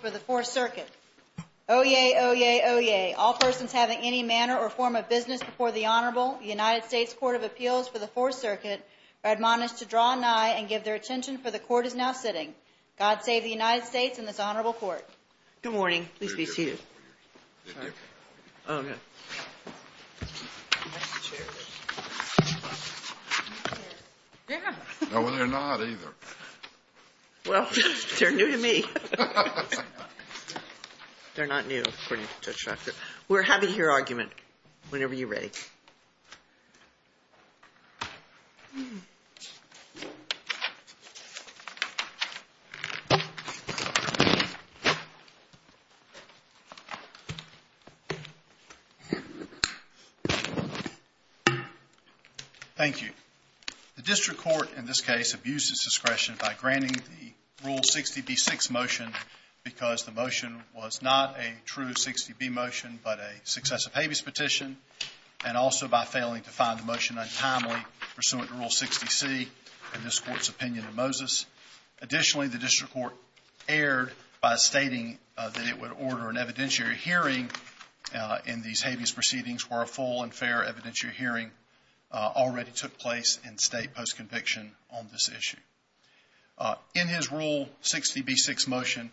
for the fourth circuit. Oh, yay. Oh, yay. Oh, yay. All persons having any manner or form of business before the Honorable United States Court of Appeals for the fourth circuit are admonished to draw nigh and give their attention for the court is now sitting. God save the United States and this honorable court. Good morning. Please be seated. Oh, yeah. No, they're not either. Well, they're new to me. They're not new. We're having your argument whenever you're ready. Thank you. The district court in this case abuses discretion by granting the rule 60 B6 motion because the motion was not a true 60 B motion but a successive habeas petition and also by failing to find the motion untimely pursuant to rule 60 C in this court's opinion of Moses. Additionally, the district court erred by stating that it would order an evidentiary hearing in these habeas proceedings were a full and fair evidentiary hearing already took place in state post-conviction on this issue. In his rule 60 B6 motion,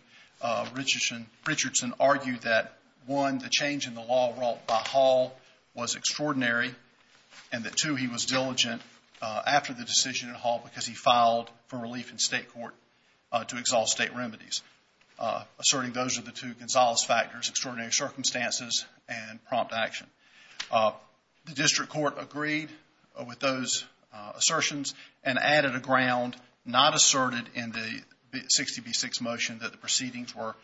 Richardson argued that, one, the change in the law brought by Hall was extraordinary and that, two, he was diligent after the decision in Hall because he filed for relief in state court to exalt state remedies, asserting those are the two Gonzales factors, extraordinary circumstances and prompt action. The district court agreed with those assertions and added a ground not asserted in the 60 B6 motion that the proceedings were,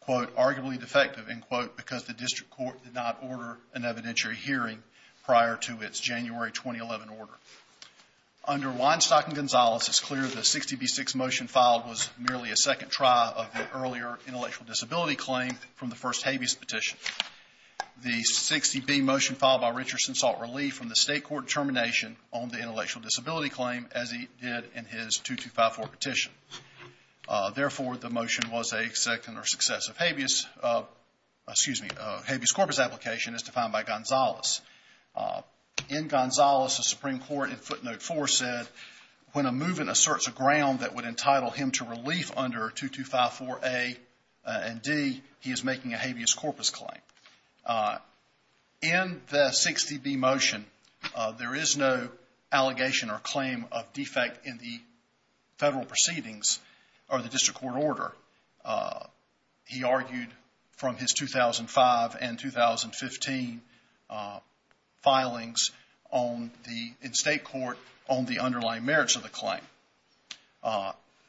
quote, arguably defective, end quote, because the district court did not order an evidentiary hearing prior to its January 2011 order. Under Weinstock and Gonzales, it's clear the 60 B6 motion filed was merely a second try of the earlier intellectual disability claim from the first habeas petition. The 60 B motion filed by Richardson sought relief from the state court termination on the intellectual disability claim as he did in his 2254 petition. Therefore, the motion was a second or successive habeas, excuse me, habeas corpus application as defined by Gonzales. In Gonzales, the Supreme Court in footnote four said, when a movement asserts a ground that would entitle him to relief under 2254 A and D, he is making a habeas corpus claim. In the 60 B motion, there is no allegation or claim of defect in the federal proceedings or the district court order. He argued from his 2005 and 2015 filings in state court on the underlying merits of the claim.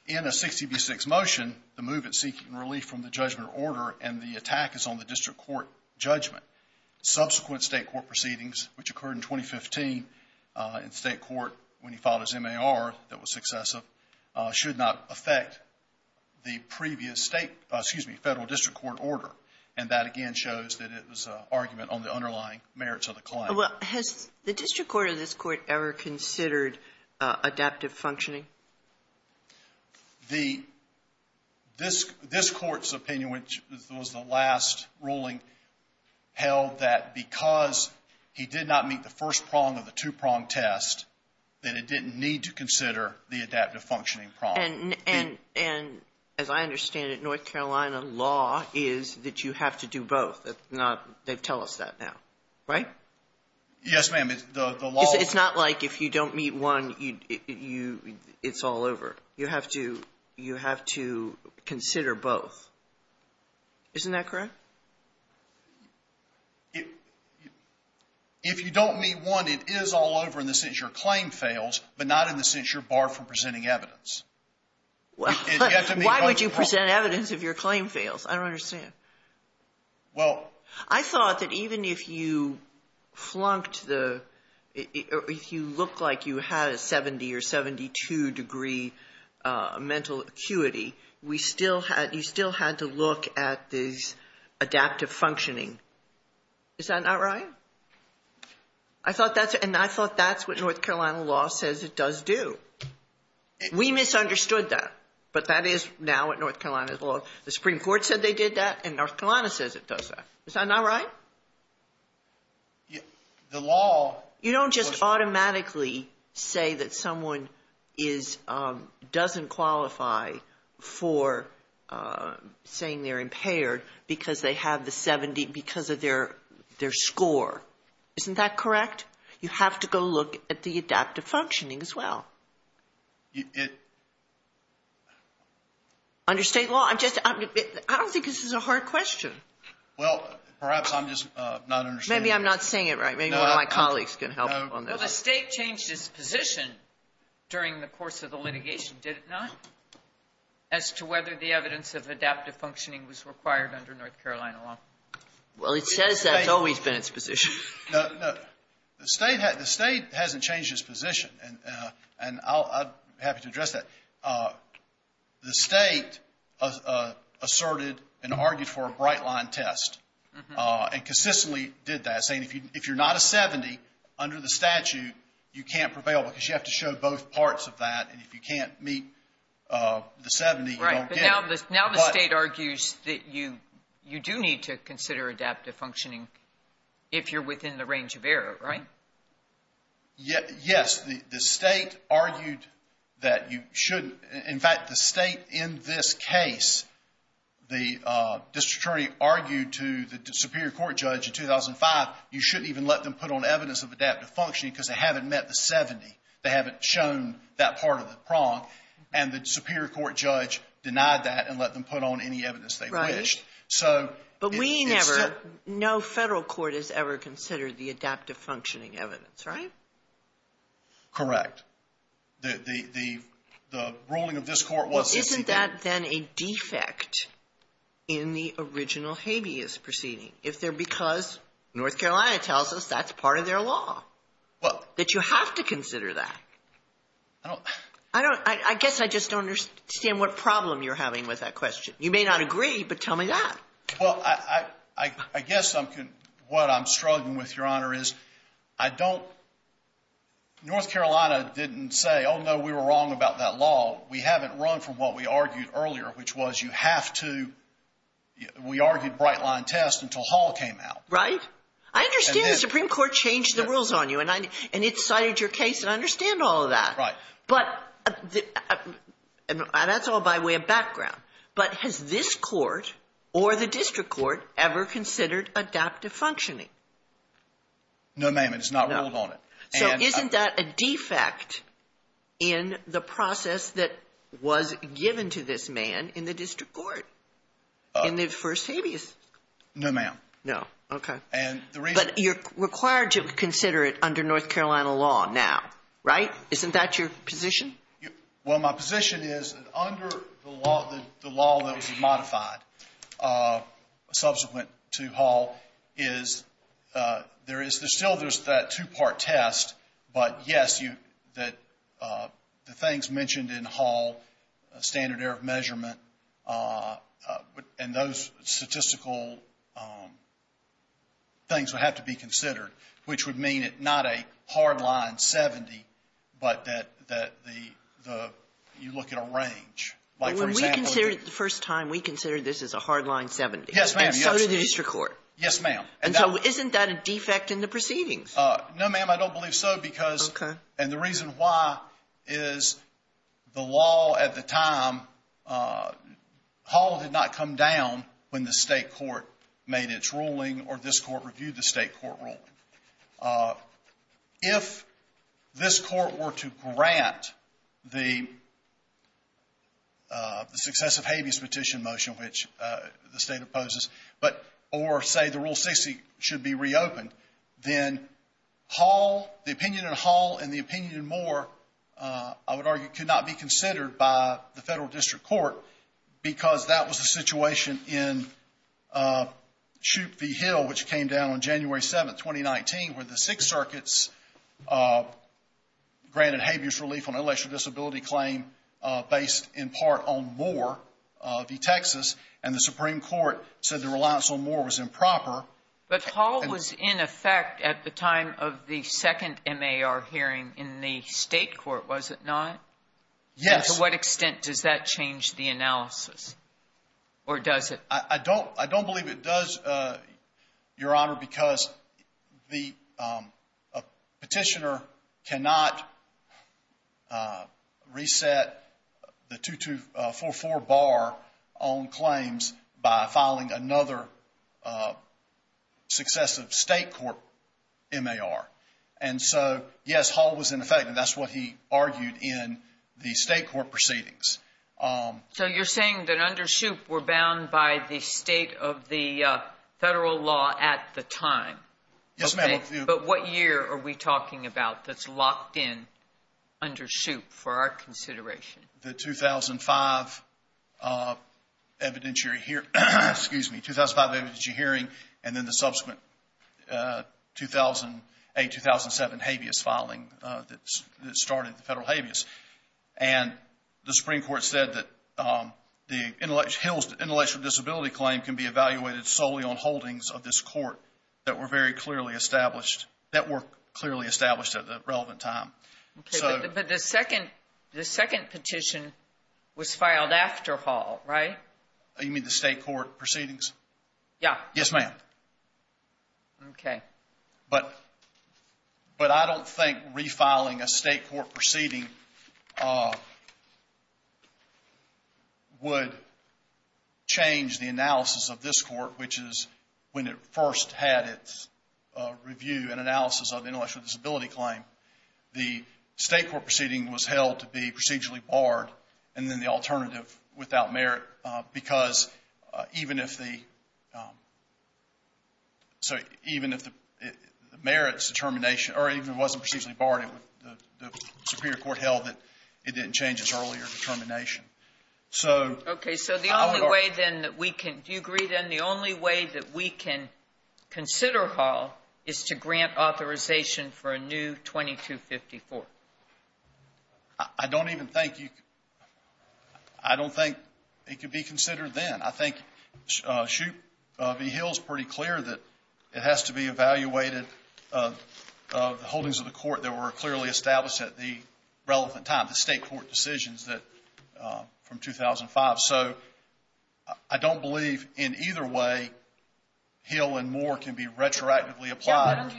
In a 60 B6 motion, the movement seeking relief from the judgment order and the attack is on the district court judgment. Subsequent state court proceedings, which occurred in 2015 in state court when he filed his MAR that was successive, should not affect the previous state, excuse me, federal district court order. And that again shows that it was an argument on the underlying merits of the claim. Well, has the district court or this court ever considered adaptive functioning? This court's opinion, which was the last ruling, held that because he did not meet the first prong of the two-prong test, that it didn't need to consider the adaptive functioning prong. And as I understand it, North Carolina law is that you have to do both. They tell us that now, right? Yes, ma'am. It's not like if you don't meet one, it's all over. You have to consider both. Isn't that correct? If you don't meet one, it is all over in the sense your claim fails, but not in the sense you're barred from presenting evidence. Why would you present evidence if your claim fails? I don't understand. Well- I thought that even if you flunked the- if you looked like you had a 70 or 72 degree mental acuity, you still had to look at this adaptive functioning. Is that not right? And I thought that's what North Carolina law says it does do. We misunderstood that, but that is now what North Carolina law- The Supreme Court said they did that, and North Carolina says it does that. Is that not right? The law- You don't just automatically say that someone is- doesn't qualify for saying they're impaired because they have the 70- because of their score. Isn't that correct? You have to go look at the adaptive functioning as well. It- Under State law? I'm just- I don't think this is a hard question. Well, perhaps I'm just not understanding. Maybe I'm not saying it right. Maybe one of my colleagues can help on this. Well, the State changed its position during the course of the litigation, did it not, as to whether the evidence of adaptive functioning was required under North Carolina law? Well, it says that's always been its position. No, no. The State hasn't changed its position, and I'm happy to address that. The State asserted and argued for a bright-line test and consistently did that, saying if you're not a 70, under the statute, you can't prevail because you have to show both parts of that, and if you can't meet the 70, you don't get it. Now the State argues that you do need to consider adaptive functioning if you're within the range of error, right? Yes. The State argued that you shouldn't. In fact, the State in this case, the district attorney argued to the superior court judge in 2005, you shouldn't even let them put on evidence of adaptive functioning because they haven't met the 70. They haven't shown that part of the prong, and the superior court judge denied that and let them put on any evidence they wished. Right. But we never, no federal court has ever considered the adaptive functioning evidence, right? Correct. The ruling of this court was to see that. Well, I guess what I'm struggling with, Your Honor, is I don't, North Carolina didn't say, oh, no, we were wrong about that law. We haven't run from what we argued earlier, which was you have to, we argued bright line test until Hall came out. Right? I understand the Supreme Court changed the rules on you, and it cited your case, and I understand all of that. Right. But that's all by way of background. But has this court or the district court ever considered adaptive functioning? No, ma'am, it's not ruled on it. So isn't that a defect in the process that was given to this man in the district court in the first habeas? No, ma'am. No, okay. But you're required to consider it under North Carolina law now, right? Isn't that your position? Well, my position is that under the law that was modified subsequent to Hall is there is still that two-part test, but, yes, that the things mentioned in Hall, standard error of measurement, and those statistical things would have to be considered, which would mean it not a hard line 70, but that the, you look at a range. Like, for example, the ---- Well, when we considered it the first time, we considered this as a hard line 70. Yes, ma'am. And so did the district court. Yes, ma'am. And so isn't that a defect in the proceedings? No, ma'am, I don't believe so because ---- Okay. And the reason why is the law at the time, Hall did not come down when the state court made its ruling or this court reviewed the state court ruling. If this court were to grant the successive habeas petition motion, which the state opposes, but or say the Rule 60 should be reopened, then Hall, the opinion in Hall and the opinion in Moore, I would argue, could not be considered by the federal district court because that was the situation in Shoup v. Hill, which came down on January 7th, 2019. Where the Sixth Circuit granted habeas relief on an intellectual disability claim based in part on Moore v. Texas, and the Supreme Court said the reliance on Moore was improper. But Hall was in effect at the time of the second MAR hearing in the state court, was it not? Yes. And to what extent does that change the analysis? Or does it? I don't believe it does, Your Honor, because the petitioner cannot reset the 2244 bar on claims by filing another successive state court MAR. And so, yes, Hall was in effect, and that's what he argued in the state court proceedings. So you're saying that under Shoup, we're bound by the state of the federal law at the time. Yes, ma'am. But what year are we talking about that's locked in under Shoup for our consideration? The 2005 evidentiary hearing, and then the subsequent 2008-2007 habeas filing that started the federal habeas. And the Supreme Court said that Hill's intellectual disability claim can be evaluated solely on holdings of this court that were very clearly established, that were clearly established at the relevant time. But the second petition was filed after Hall, right? You mean the state court proceedings? Yeah. Yes, ma'am. Okay. But I don't think refiling a state court proceeding would change the analysis of this court, which is when it first had its review and analysis of intellectual disability claim. The state court proceeding was held to be procedurally barred, and then the alternative without merit, because even if the merits determination, or even if it wasn't procedurally barred, the superior court held that it didn't change its earlier determination. Okay. So the only way, then, that we can – do you agree, then, the only way that we can consider Hall is to grant authorization for a new 2254? I don't even think you – I don't think it could be considered then. I think Shoup v. Hill is pretty clear that it has to be evaluated, the holdings of the court that were clearly established at the relevant time, the state court decisions that – from 2005. So I don't believe in either way Hill and Moore can be retroactively applied.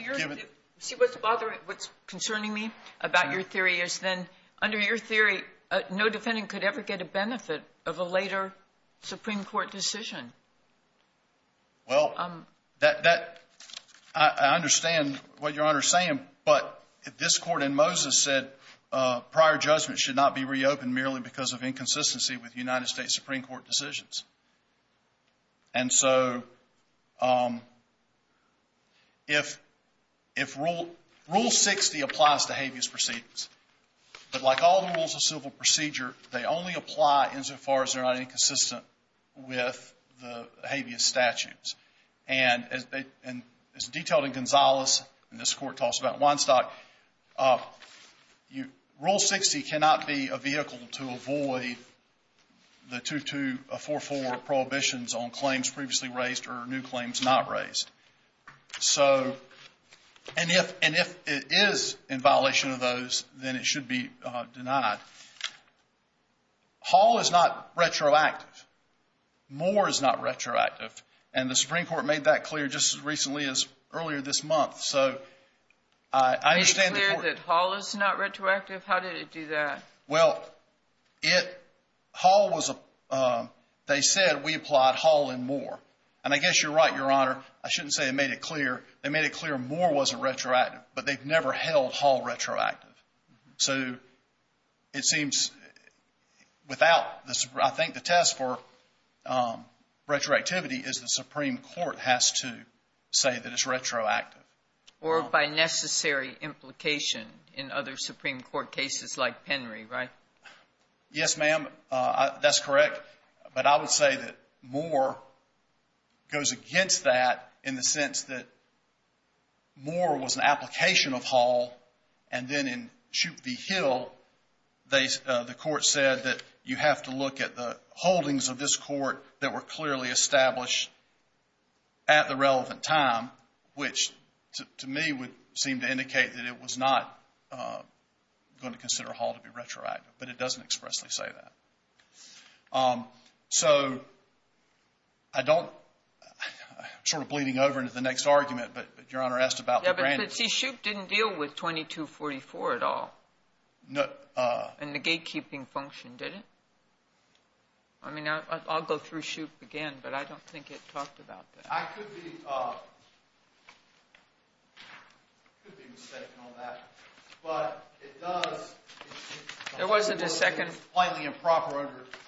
See, what's bothering – what's concerning me about your theory is then, under your theory, no defendant could ever get a benefit of a later Supreme Court decision. Well, that – I understand what Your Honor is saying, but this court in Moses said prior judgment should not be reopened merely because of inconsistency with United States Supreme Court decisions. And so if Rule 60 applies to habeas proceedings, but like all the rules of civil procedure, they only apply insofar as they're not inconsistent with the habeas statutes. And as detailed in Gonzales, and this court talks about in Weinstock, Rule 60 cannot be a vehicle to avoid the 2244 prohibitions on claims previously raised or new claims not raised. So – and if it is in violation of those, then it should be denied. Hall is not retroactive. Moore is not retroactive. And the Supreme Court made that clear just as recently as earlier this month. So I understand the court – Made it clear that Hall is not retroactive? How did it do that? Well, it – Hall was – they said we applied Hall and Moore. And I guess you're right, Your Honor. I shouldn't say they made it clear. They made it clear Moore wasn't retroactive, but they've never held Hall retroactive. So it seems without the – I think the test for retroactivity is the Supreme Court has to say that it's retroactive. Or by necessary implication in other Supreme Court cases like Penry, right? Yes, ma'am. That's correct. But I would say that Moore goes against that in the sense that Moore was an application of Hall, and then in Shoup v. Hill, the court said that you have to look at the holdings of this court that were clearly established at the relevant time, which to me would seem to indicate that it was not going to consider Hall to be retroactive. But it doesn't expressly say that. So I don't – I'm sort of bleeding over into the next argument, but Your Honor asked about the brand. Yeah, but see, Shoup didn't deal with 2244 at all. And the gatekeeping function didn't. I mean, I'll go through Shoup again, but I don't think it talked about that. I could be – I could be mistaken on that. But it does – There wasn't a second.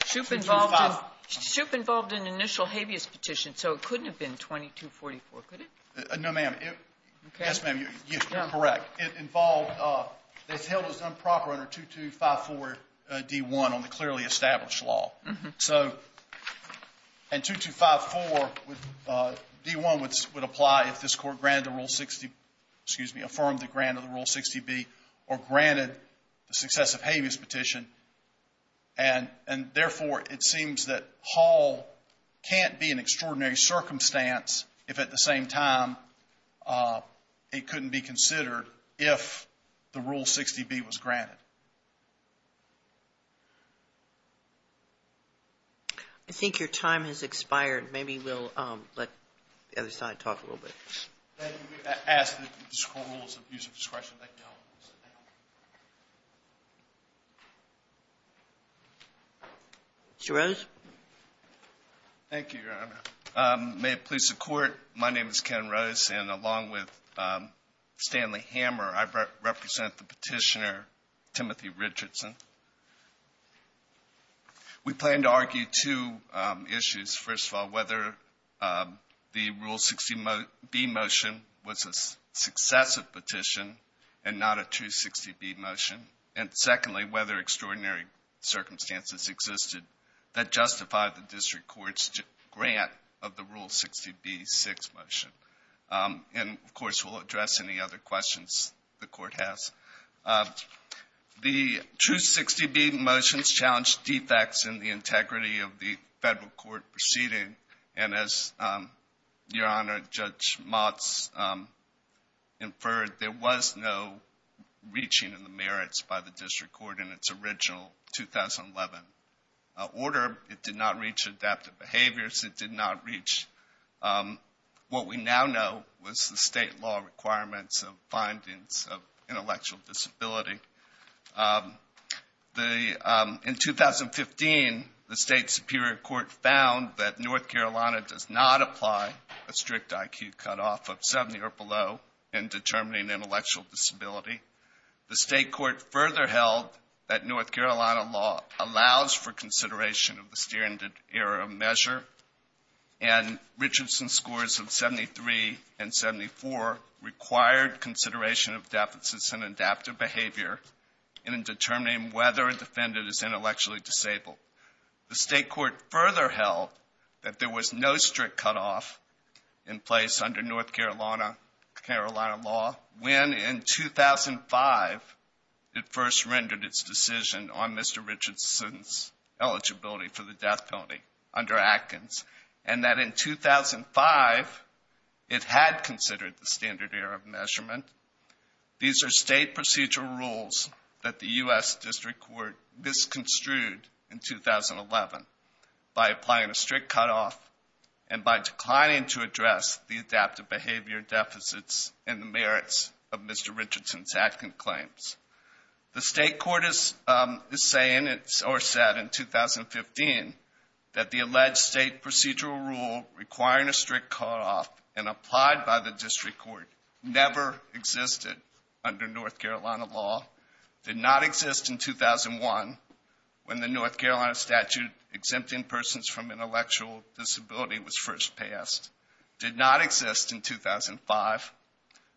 Shoup involved in initial habeas petition, so it couldn't have been 2244, could it? No, ma'am. Yes, ma'am, you're correct. It involved – Hill was improper under 2254d1 on the clearly established law. So in 2254, d1 would apply if this Court granted the Rule 60 – excuse me, affirmed the grant of the Rule 60b or granted the successive habeas petition. And therefore, it seems that Hall can't be in extraordinary circumstance if at the same time it couldn't be considered if the Rule 60b was granted. All right. I think your time has expired. Maybe we'll let the other side talk a little bit. Can I ask that you just call the Rules of Use of Discretion? Thank you. Mr. Rose? Thank you, Your Honor. May it please the Court, my name is Ken Rose. And along with Stanley Hammer, I represent the petitioner Timothy Richardson. We plan to argue two issues. First of all, whether the Rule 60b motion was a successive petition and not a 260b motion. And secondly, whether extraordinary circumstances existed that justified the district court's grant of the Rule 60b6 motion. And, of course, we'll address any other questions the Court has. The true 60b motions challenged defects in the integrity of the federal court proceeding. And as Your Honor, Judge Motz inferred, there was no reaching in the merits by the district court in its original 2011 order. It did not reach adaptive behaviors. It did not reach what we now know was the state law requirements of findings of intellectual disability. In 2015, the state superior court found that North Carolina does not apply a strict IQ cutoff of 70 or below in determining intellectual disability. The state court further held that North Carolina law allows for consideration of the Steering Era measure. And Richardson's scores of 73 and 74 required consideration of deficits in adaptive behavior in determining whether a defendant is intellectually disabled. The state court further held that there was no strict cutoff in place under North Carolina law when in 2005 it first rendered its decision on Mr. Richardson's eligibility for the death penalty under Atkins, and that in 2005 it had considered the Standard Era measurement. These are state procedural rules that the U.S. District Court misconstrued in 2011 by applying a strict cutoff and by declining to address the adaptive behavior deficits and the merits of Mr. Richardson's Atkins claims. The state court is saying or said in 2015 that the alleged state procedural rule requiring a strict cutoff and applied by the district court never existed under North Carolina law, did not exist in 2001 when the North Carolina statute exempting persons from intellectual disability was first passed, did not exist in 2005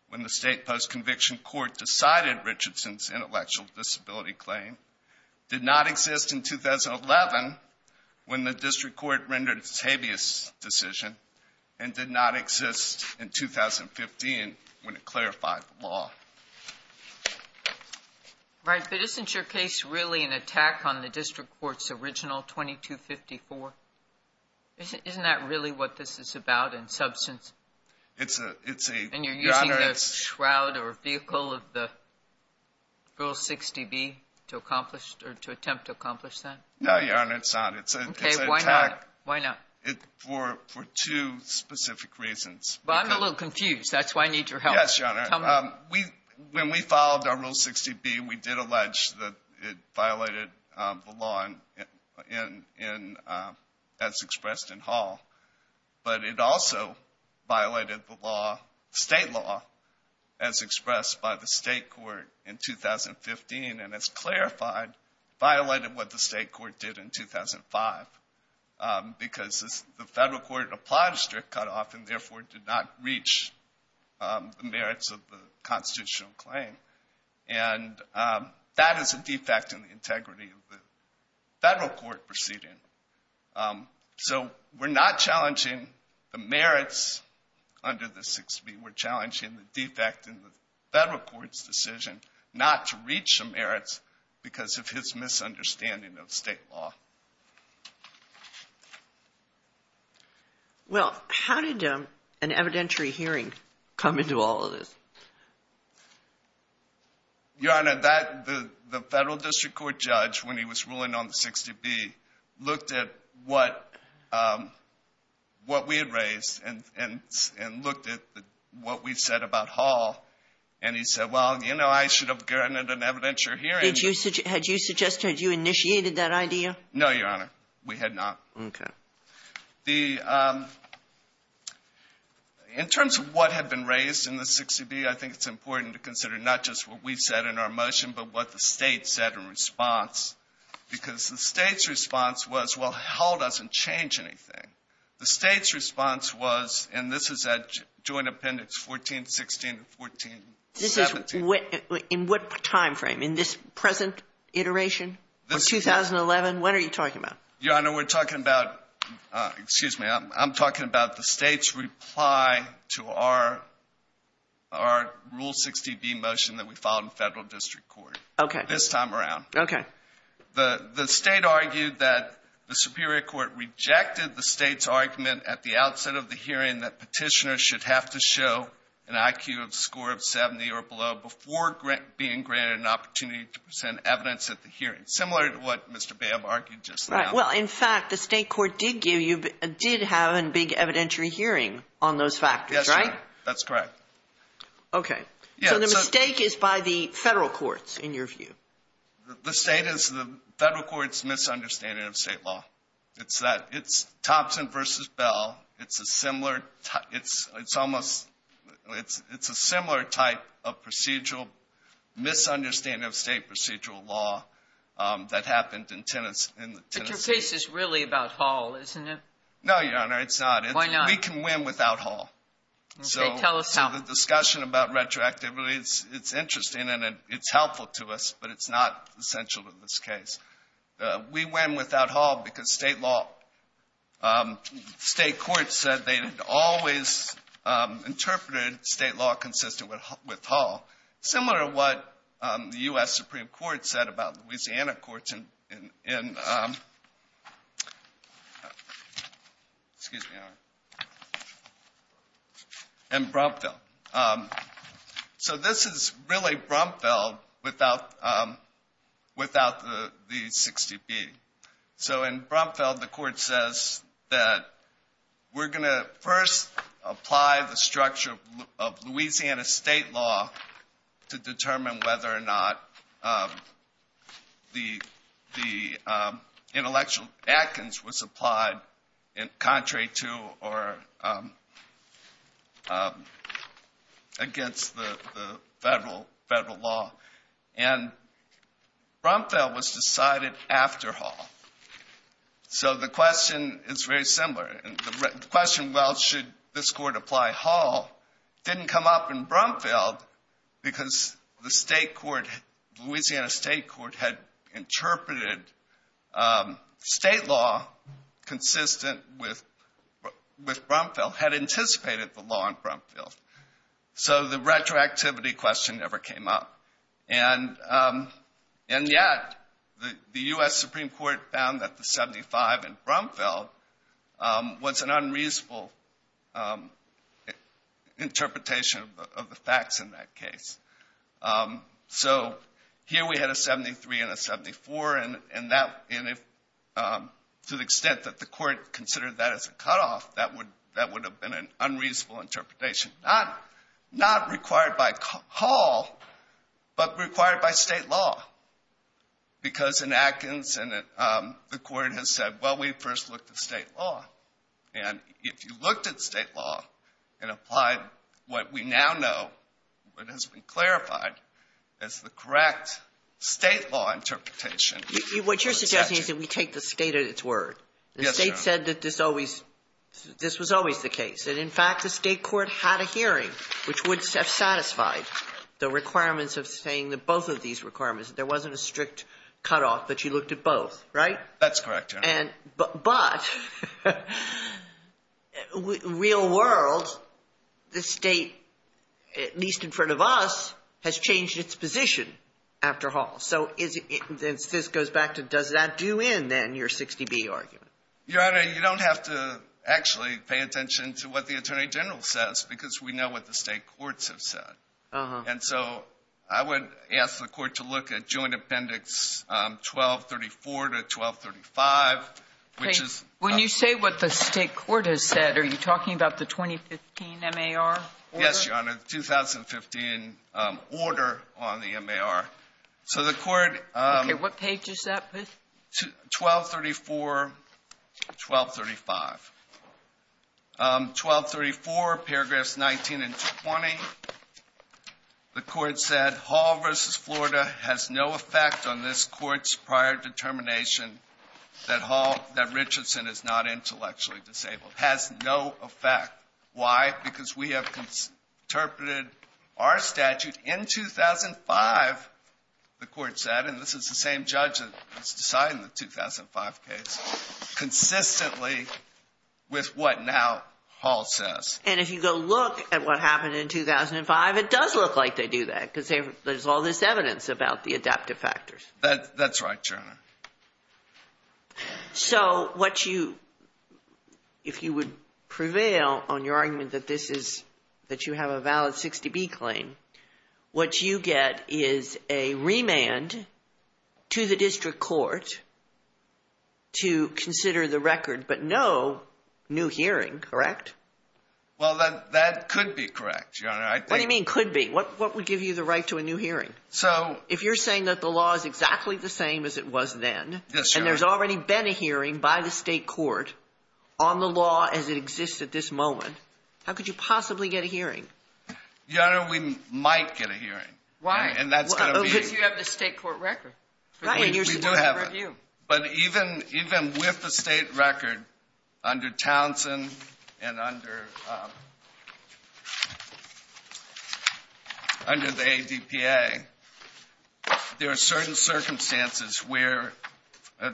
when the state post-conviction court decided Richardson's intellectual disability claim, did not exist in 2011 when the district court rendered its habeas decision, and did not exist in 2015 when it clarified the law. Right, but isn't your case really an attack on the district court's original 2254? Isn't that really what this is about in substance? It's a, it's a, Your Honor, And you're using the shroud or vehicle of the Rule 60B to accomplish or to attempt to accomplish that? No, Your Honor, it's not. Okay, why not? It's an attack. Why not? For two specific reasons. Well, I'm a little confused. That's why I need your help. Yes, Your Honor. Tell me. When we followed our Rule 60B, we did allege that it violated the law in, as expressed in Hall, but it also violated the law, state law, as expressed by the state court in 2015 and, as clarified, violated what the state court did in 2005 because the federal court applied a strict cutoff and therefore did not reach the merits of the constitutional claim. And that is a defect in the integrity of the federal court proceeding. So we're not challenging the merits under the 60B. We're challenging the defect in the federal court's decision not to reach the merits because of his misunderstanding of state law. Well, how did an evidentiary hearing come into all of this? Your Honor, that, the federal district court judge, when he was ruling on the 60B, looked at what we had raised and looked at what we said about Hall, and he said, well, you know, I should have granted an evidentiary hearing. Had you suggested, had you initiated that idea? No, Your Honor. We had not. Okay. The, in terms of what had been raised in the 60B, I think it's important to consider not just what we said in our motion but what the State said in response because the State's response was, well, Hall doesn't change anything. The State's response was, and this is at joint appendix 1416 and 1417. This is what, in what time frame? In this present iteration or 2011? What are you talking about? Your Honor, we're talking about, excuse me, I'm talking about the State's reply to our rule 60B motion that we filed in federal district court. Okay. This time around. Okay. The State argued that the superior court rejected the State's argument at the outset of the hearing that petitioners should have to show an IQ of a score of 70 or below before being granted an opportunity to present evidence at the hearing, similar to what Mr. Bam argued just now. Right. Well, in fact, the State court did give you, did have a big evidentiary hearing on those factors, right? Yes, Your Honor. That's correct. Okay. So the mistake is by the federal courts, in your view? The State is, the federal court's misunderstanding of State law. It's that, it's Thompson versus Bell. It's a similar, it's almost, it's a similar type of procedural, misunderstanding of State procedural law that happened in Tennessee. But your case is really about Hall, isn't it? No, Your Honor, it's not. Why not? We can win without Hall. Okay. Tell us how. The discussion about retroactivity, it's interesting and it's helpful to us, but it's not essential in this case. We win without Hall because State law, State courts said they always interpreted State law consistent with Hall, similar to what the U.S. Supreme Court said about Louisiana courts in, excuse me, Your Honor, in Brumfield. So this is really Brumfield without the 60B. So in Brumfield, the court says that we're going to first apply the structure of Louisiana State law to determine whether or not the intellectual Adkins was applied contrary to or against the federal law. And Brumfield was decided after Hall. So the question is very similar. And the question, well, should this court apply Hall, didn't come up in Brumfield because the State court, Louisiana State court, had interpreted State law consistent with Brumfield, had anticipated the law in Brumfield. So the retroactivity question never came up. And yet the U.S. Supreme Court found that the 75 in Brumfield was an unreasonable interpretation of the facts in that case. So here we had a 73 and a 74, and to the extent that the court considered that as a cutoff, that would have been an unreasonable interpretation. Not required by Hall, but required by State law. Because in Adkins, the court has said, well, we first looked at State law. And if you looked at State law and applied what we now know, what has been clarified as the correct State law interpretation. What you're suggesting is that we take the State at its word. The State said that this was always the case. And, in fact, the State court had a hearing which would have satisfied the requirements of saying that both of these requirements. There wasn't a strict cutoff, but you looked at both, right? That's correct, Your Honor. But in the real world, the State, at least in front of us, has changed its position after Hall. So this goes back to does that do in, then, your 60B argument? Your Honor, you don't have to actually pay attention to what the Attorney General says, because we know what the State courts have said. And so I would ask the court to look at Joint Appendix 1234 to 1235, which is... When you say what the State court has said, are you talking about the 2015 MAR? Yes, Your Honor, the 2015 order on the MAR. So the court... Okay, what page is that? 1234, 1235. 1234, paragraphs 19 and 20, the court said, Hall v. Florida has no effect on this court's prior determination that Richardson is not intellectually disabled. Has no effect. Why? Because we have interpreted our statute in 2005, the court said, and this is the same judge that's deciding the 2005 case, consistently with what now Hall says. And if you go look at what happened in 2005, it does look like they do that, because there's all this evidence about the adaptive factors. That's right, Your Honor. So what you... If you would prevail on your argument that you have a valid 60B claim, what you get is a remand to the district court to consider the record, but no new hearing, correct? Well, that could be correct, Your Honor. What do you mean could be? What would give you the right to a new hearing? So... If you're saying that the law is exactly the same as it was then... Yes, Your Honor. And there's already been a hearing by the State court on the law as it exists at this moment, how could you possibly get a hearing? Your Honor, we might get a hearing. Why? Because you have the State court record. Right. We do have it. But even with the State record under Townsend and under the ADPA, there are certain circumstances where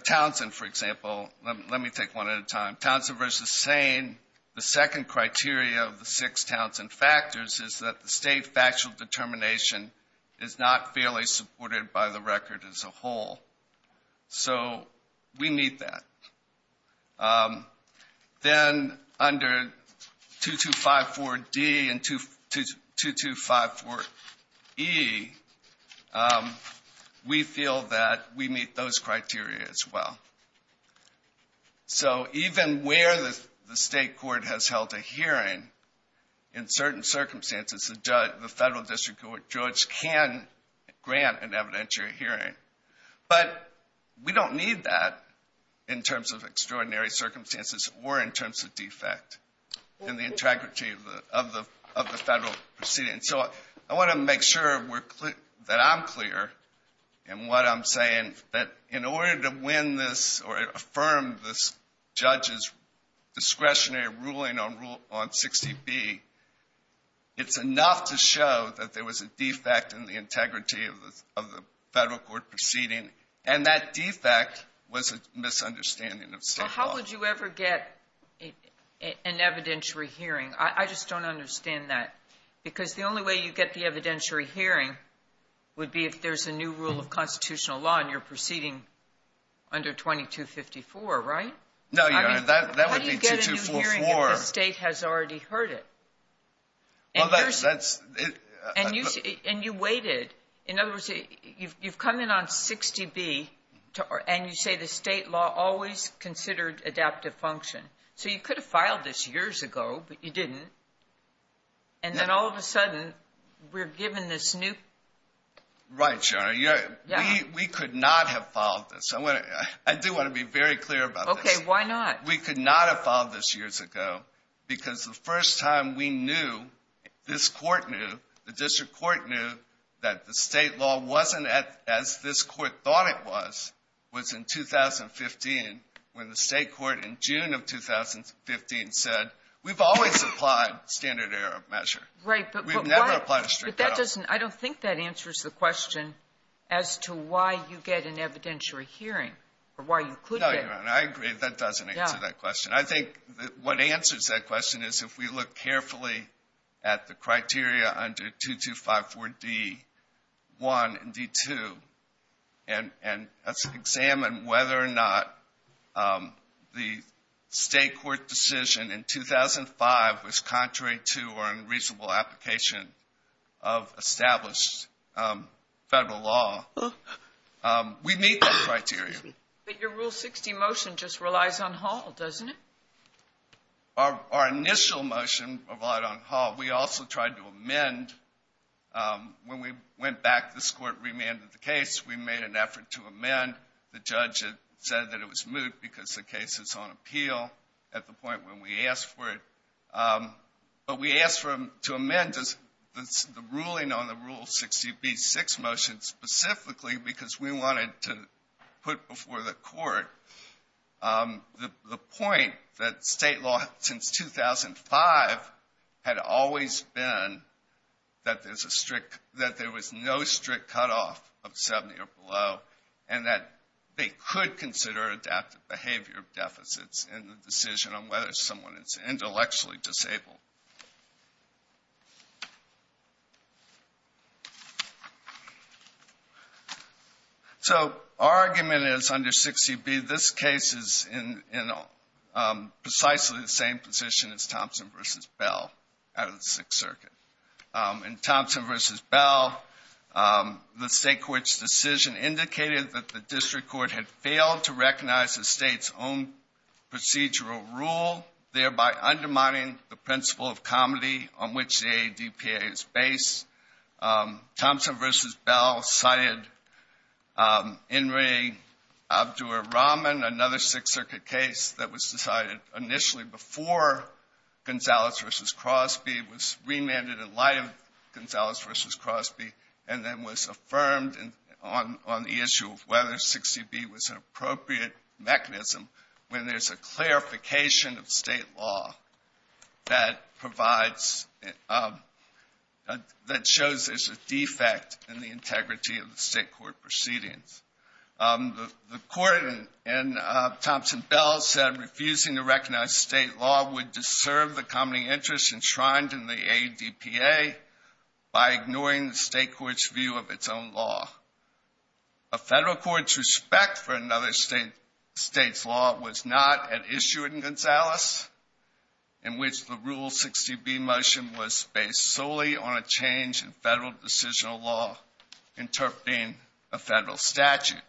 Townsend, for example... Let me take one at a time. Townsend v. Sane, the second criteria of the six Townsend factors is that the State factual determination is not fairly supported by the record as a whole. So we meet that. Then under 2254D and 2254E, we feel that we meet those criteria as well. So even where the State court has held a hearing, in certain circumstances, the Federal District Court judge can grant an evidentiary hearing. But we don't need that in terms of extraordinary circumstances or in terms of defect in the integrity of the Federal proceeding. And so I want to make sure that I'm clear in what I'm saying, that in order to win this or affirm this judge's discretionary ruling on 60B, it's enough to show that there was a defect in the integrity of the Federal court proceeding, and that defect was a misunderstanding of State law. Well, how would you ever get an evidentiary hearing? I just don't understand that. Because the only way you get the evidentiary hearing would be if there's a new rule of constitutional law and you're proceeding under 2254, right? No, Your Honor. That would be 2244. How do you get a new hearing if the State has already heard it? And you waited. In other words, you've come in on 60B, and you say the State law always considered adaptive function. So you could have filed this years ago, but you didn't. And then all of a sudden we're given this new. Right, Your Honor. We could not have filed this. I do want to be very clear about this. Okay, why not? We could not have filed this years ago because the first time we knew, this court knew, the district court knew that the State law wasn't as this court thought it was, was in 2015 when the State court in June of 2015 said, we've always applied standard error of measure. Right. We've never applied a strict error. But that doesn't – I don't think that answers the question as to why you get an evidentiary hearing or why you couldn't get it. No, Your Honor. I agree that that doesn't answer that question. I think what answers that question is if we look carefully at the criteria under 2254D1 and D2, and examine whether or not the State court decision in 2005 was contrary to or in reasonable application of established federal law, we meet that criteria. But your Rule 60 motion just relies on Hall, doesn't it? Our initial motion relied on Hall. We also tried to amend. When we went back, this court remanded the case. We made an effort to amend. The judge said that it was moot because the case is on appeal at the point when we asked for it. But we asked for him to amend the ruling on the Rule 60B6 motion specifically because we wanted to put before the court the point that State law since 2005 had always been that there was no strict cutoff of 70 or below and that they could consider adaptive behavior deficits in the decision on whether someone is intellectually disabled. So our argument is under 60B, this case is in precisely the same position as Thompson v. Bell out of the Sixth Circuit. In Thompson v. Bell, the State court's decision indicated that the district court had failed to recognize the State's own procedural rule, thereby undermining the principle of comity on which the ADPA is based. Thompson v. Bell cited Inri Abdur-Rahman, another Sixth Circuit case that was decided initially before Gonzales v. Crosby, was remanded in light of Gonzales v. Crosby, and then was affirmed on the issue of whether 60B was an appropriate mechanism when there's a clarification of State law that shows there's a defect in the integrity of the State court proceedings. The court in Thompson v. Bell said refusing to recognize State law would deserve the comity interest enshrined in the ADPA by ignoring the State court's view of its own law. A Federal court's respect for another State's law was not at issue in Gonzales, in which the Rule 60B motion was based solely on a change in Federal decisional law interpreting a Federal statute.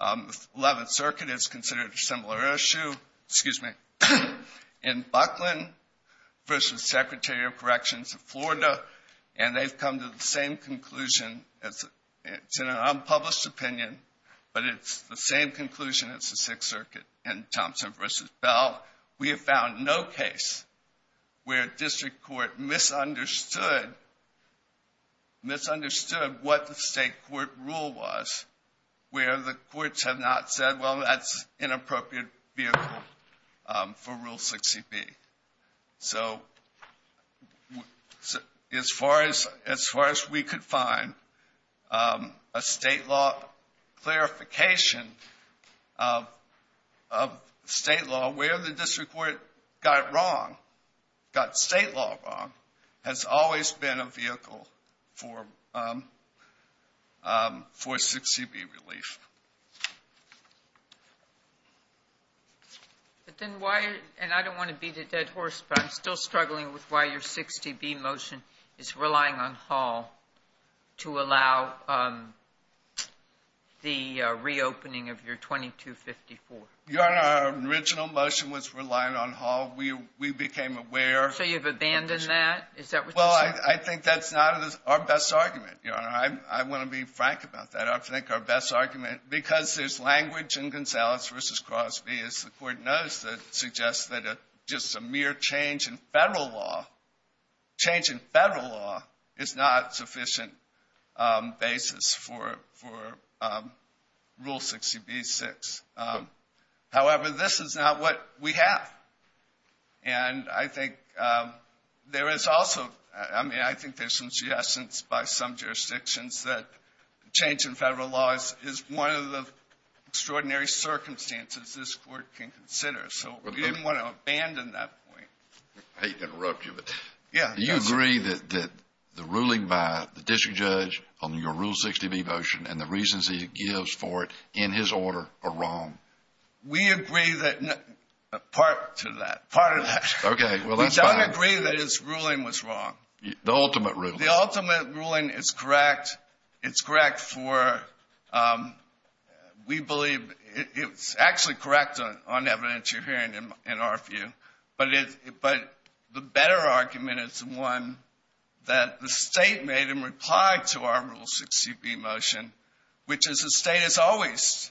The Eleventh Circuit has considered a similar issue in Buckland v. Secretary of Corrections of Florida, and they've come to the same conclusion. It's an unpublished opinion, but it's the same conclusion as the Sixth Circuit in Thompson v. Bell. We have found no case where District Court misunderstood what the State court rule was, where the courts have not said, well, that's an inappropriate vehicle for Rule 60B. So as far as we could find, a State law clarification of State law, where the District court got State law wrong, has always been a vehicle for Rule 60B relief. And I don't want to beat a dead horse, but I'm still struggling with why your 60B motion is relying on Hall to allow the reopening of your 2254. Your Honor, our original motion was relying on Hall. We became aware. So you've abandoned that? Is that what you're saying? Well, I think that's not our best argument, Your Honor. I want to be frank about that. I don't think our best argument, because there's language in Gonzalez v. Crosby, as the Court knows, that suggests that just a mere change in Federal law, change in Federal law is not sufficient basis for Rule 60B-6. However, this is not what we have. And I think there is also, I mean, I think there's some suggestions by some jurisdictions that change in Federal law is one of the extraordinary circumstances this Court can consider. So we didn't want to abandon that point. I hate to interrupt you, but do you agree that the ruling by the District judge on your Rule 60B motion and the reasons he gives for it in his order are wrong? We agree that part to that, part of that. Okay, well, that's fine. We don't agree that his ruling was wrong. The ultimate ruling. The ultimate ruling is correct. It's correct for, we believe, it's actually correct on evidence you're hearing in our view. But the better argument is the one that the State made in reply to our Rule 60B motion, which is the State has always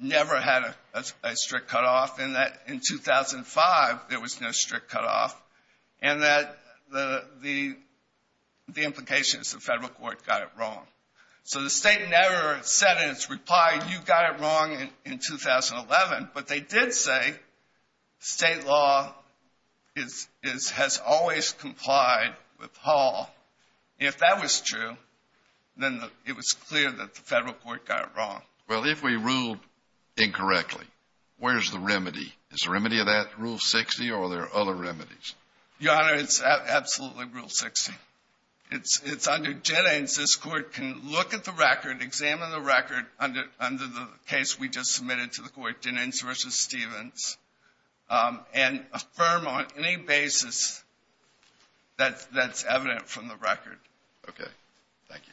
never had a strict cutoff, and that in 2005 there was no strict cutoff, and that the implication is the Federal court got it wrong. So the State never said in its reply, you got it wrong in 2011, but they did say State law has always complied with Hall. If that was true, then it was clear that the Federal court got it wrong. Is the remedy of that Rule 60 or are there other remedies? Your Honor, it's absolutely Rule 60. It's under Jennings. This Court can look at the record, examine the record under the case we just submitted to the Court, Jennings v. Stevens, and affirm on any basis that that's evident from the record. Okay. Thank you.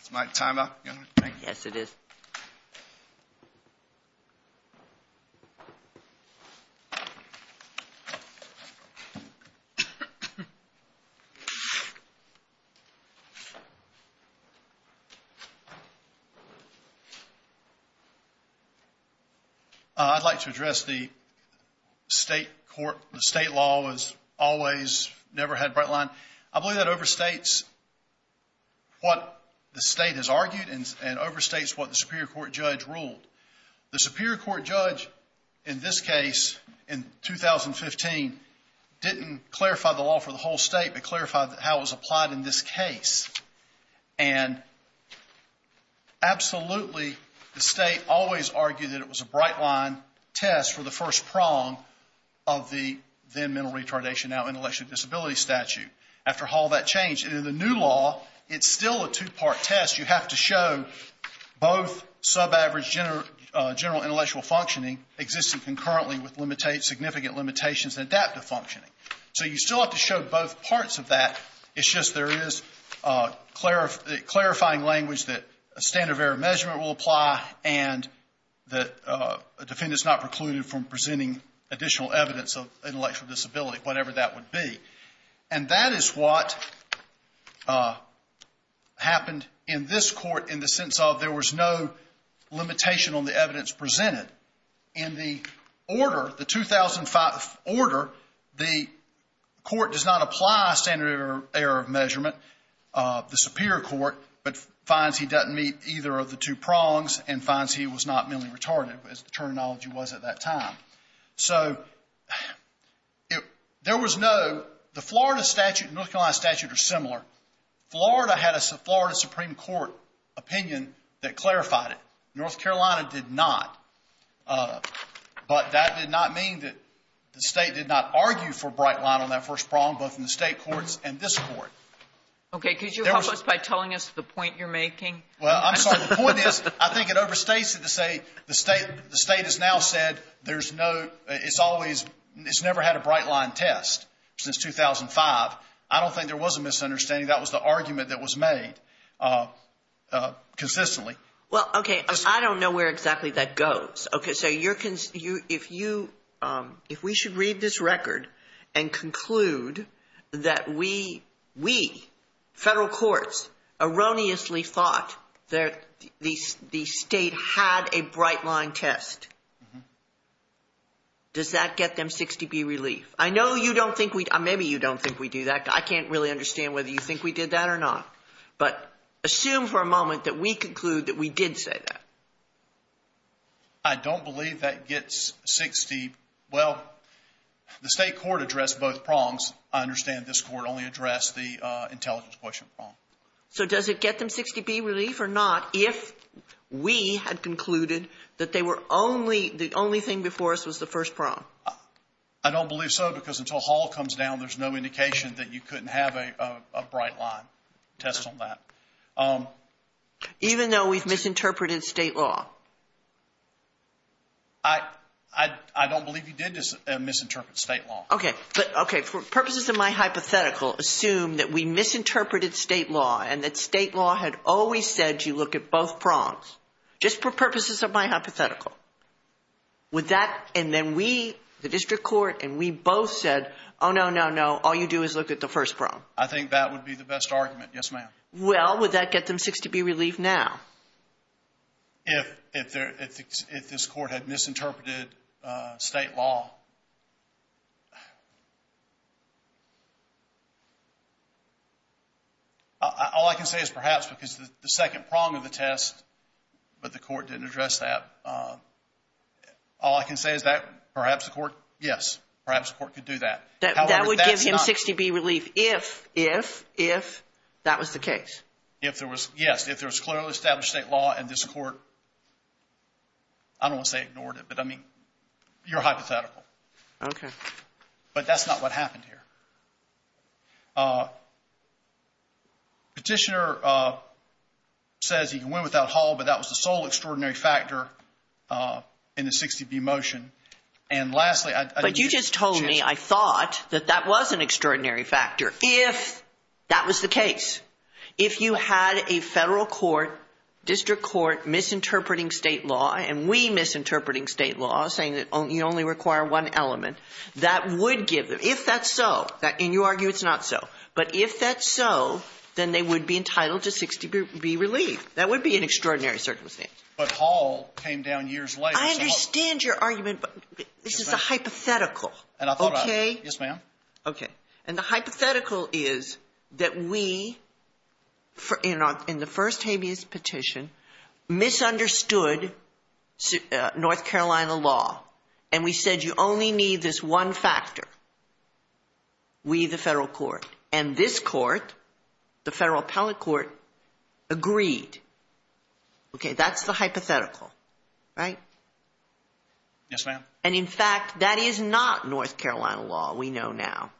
Is my time up, Your Honor? Yes, it is. Thank you. I'd like to address the State court. The State law has always never had a bright line. I believe that overstates what the State has argued and overstates what the Superior Court judge ruled. The Superior Court judge in this case, in 2015, didn't clarify the law for the whole State, but clarified how it was applied in this case. And absolutely, the State always argued that it was a bright line test for the first prong of the then mental retardation, now intellectual disability statute. After Hall, that changed. And in the new law, it's still a two-part test. You have to show both subaverage general intellectual functioning existing concurrently with significant limitations in adaptive functioning. So you still have to show both parts of that. It's just there is clarifying language that a standard of error measurement will apply and that a defendant is not precluded from presenting additional evidence of intellectual disability, whatever that would be. And that is what happened in this court, in the sense of there was no limitation on the evidence presented. In the order, the 2005 order, the court does not apply standard of error measurement, the Superior Court, but finds he doesn't meet either of the two prongs and finds he was not mentally retarded, as the terminology was at that time. So there was no – the Florida statute and North Carolina statute are similar. Florida had a Florida Supreme Court opinion that clarified it. North Carolina did not. But that did not mean that the State did not argue for a bright line on that first prong, both in the State courts and this court. Okay. Could you help us by telling us the point you're making? Well, I'm sorry. The point is, I think it overstates it to say the State has now said there's no – it's always – it's never had a bright line test since 2005. I don't think there was a misunderstanding. That was the argument that was made consistently. Well, okay. I don't know where exactly that goes. Okay. So you're – if you – if we should read this record and conclude that we, federal courts, erroneously thought that the State had a bright line test, does that get them 60B relief? I know you don't think we – maybe you don't think we do that. I can't really understand whether you think we did that or not. But assume for a moment that we conclude that we did say that. I don't believe that gets 60 – well, the State court addressed both prongs. I understand this court only addressed the intelligence question prong. So does it get them 60B relief or not if we had concluded that they were only – the only thing before us was the first prong? I don't believe so because until Hall comes down, there's no indication that you couldn't have a bright line test on that. Even though we've misinterpreted State law? I don't believe you did misinterpret State law. Okay. But, okay, for purposes of my hypothetical, assume that we misinterpreted State law and that State law had always said you look at both prongs, just for purposes of my hypothetical. Would that – and then we, the district court, and we both said, oh, no, no, no, all you do is look at the first prong. I think that would be the best argument, yes, ma'am. Well, would that get them 60B relief now? If this court had misinterpreted State law. All I can say is perhaps because the second prong of the test, but the court didn't address that. All I can say is that perhaps the court, yes, perhaps the court could do that. That would give him 60B relief if, if, if that was the case. If there was, yes, if there was clearly established State law and this court, I don't want to say ignored it, but, I mean, your hypothetical. Okay. But that's not what happened here. Petitioner says he can win without Hall, but that was the sole extraordinary factor in the 60B motion. And, lastly, I didn't get your chance. But you just told me I thought that that was an extraordinary factor if that was the case. If you had a federal court, district court misinterpreting State law and we misinterpreting State law saying that you only require one element, that would give them, if that's so, and you argue it's not so, but if that's so, then they would be entitled to 60B relief. That would be an extraordinary circumstance. But Hall came down years later. I understand your argument, but this is a hypothetical. And I thought I, yes, ma'am. Okay. And the hypothetical is that we, in the first habeas petition, misunderstood North Carolina law and we said you only need this one factor, we, the federal court. And this court, the federal appellate court, agreed. Okay. That's the hypothetical. Right? Yes, ma'am. And, in fact, that is not North Carolina law we know now.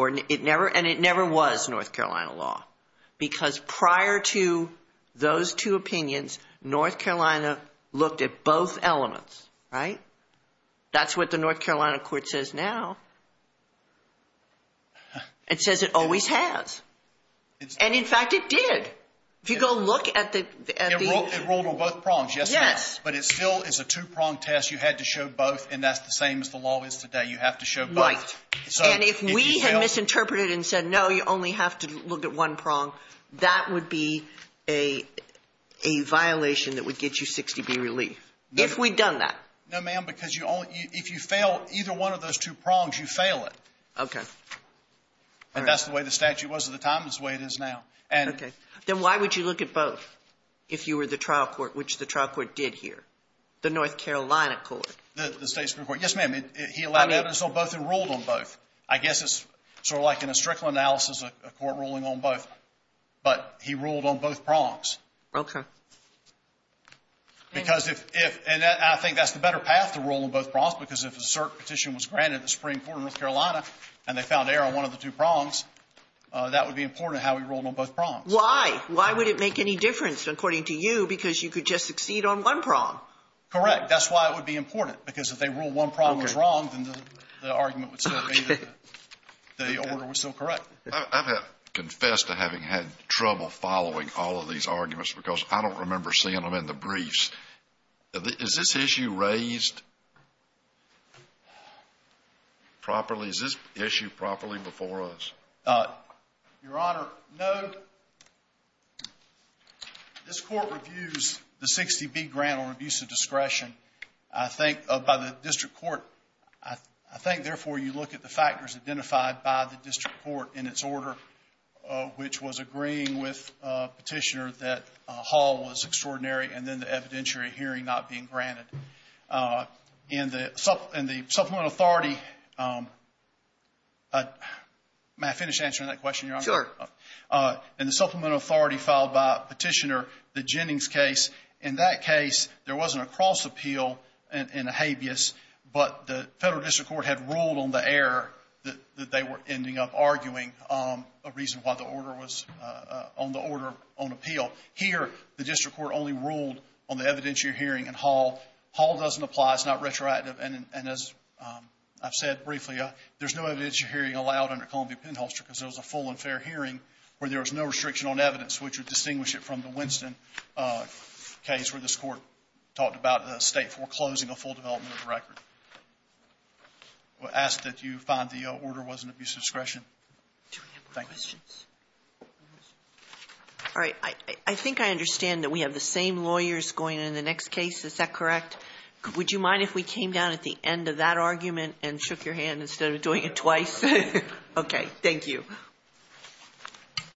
And it never was North Carolina law because prior to those two opinions, North Carolina looked at both elements. Right? That's what the North Carolina court says now. It says it always has. And, in fact, it did. If you go look at the ‑‑ It rolled on both prongs, yes, ma'am. Yes. But it still is a two-prong test. You had to show both, and that's the same as the law is today. You have to show both. Right. And if we had misinterpreted and said, no, you only have to look at one prong, that would be a violation that would get you 60B relief, if we'd done that. No, ma'am, because you only ‑‑ if you fail either one of those two prongs, you fail it. Okay. And that's the way the statute was at the time. It's the way it is now. Okay. Then why would you look at both if you were the trial court, which the trial court did here, the North Carolina court? The state supreme court. Yes, ma'am. He allowed evidence on both and ruled on both. I guess it's sort of like in a strickland analysis, a court ruling on both. But he ruled on both prongs. Okay. Because if ‑‑ and I think that's the better path to rule on both prongs because if a cert petition was granted at the Supreme Court in North Carolina and they found error on one of the two prongs, that would be important how he ruled on both prongs. Why? Why would it make any difference, according to you, because you could just succeed on one prong? Correct. That's why it would be important because if they ruled one prong was wrong, then the argument would still be that the order was still correct. I confess to having had trouble following all of these arguments because I don't remember seeing them in the briefs. Is this issue raised properly? Is this issue properly before us? Your Honor, no. This court reviews the 60B grant on abuse of discretion by the district court. I think, therefore, you look at the factors identified by the district court in its order, which was agreeing with Petitioner that Hall was extraordinary and then the evidentiary hearing not being granted. In the supplement authority, may I finish answering that question, Your Honor? Sure. In the supplement authority filed by Petitioner, the Jennings case, in that case there wasn't a cross appeal and a habeas, but the federal district court had ruled on the error that they were ending up arguing a reason why the order was on the order on appeal. Here, the district court only ruled on the evidentiary hearing in Hall. Hall doesn't apply. It's not retroactive. And as I've said briefly, there's no evidentiary hearing allowed under Columbia Penholster because there was a full and fair hearing where there was no restriction on evidence, which would distinguish it from the Winston case where this court talked about the state foreclosing a full development of the record. I ask that you find the order wasn't abuse of discretion. Do we have more questions? All right. I think I understand that we have the same lawyers going in the next case. Is that correct? Would you mind if we came down at the end of that argument and shook your hand instead of doing it twice? Okay. Thank you.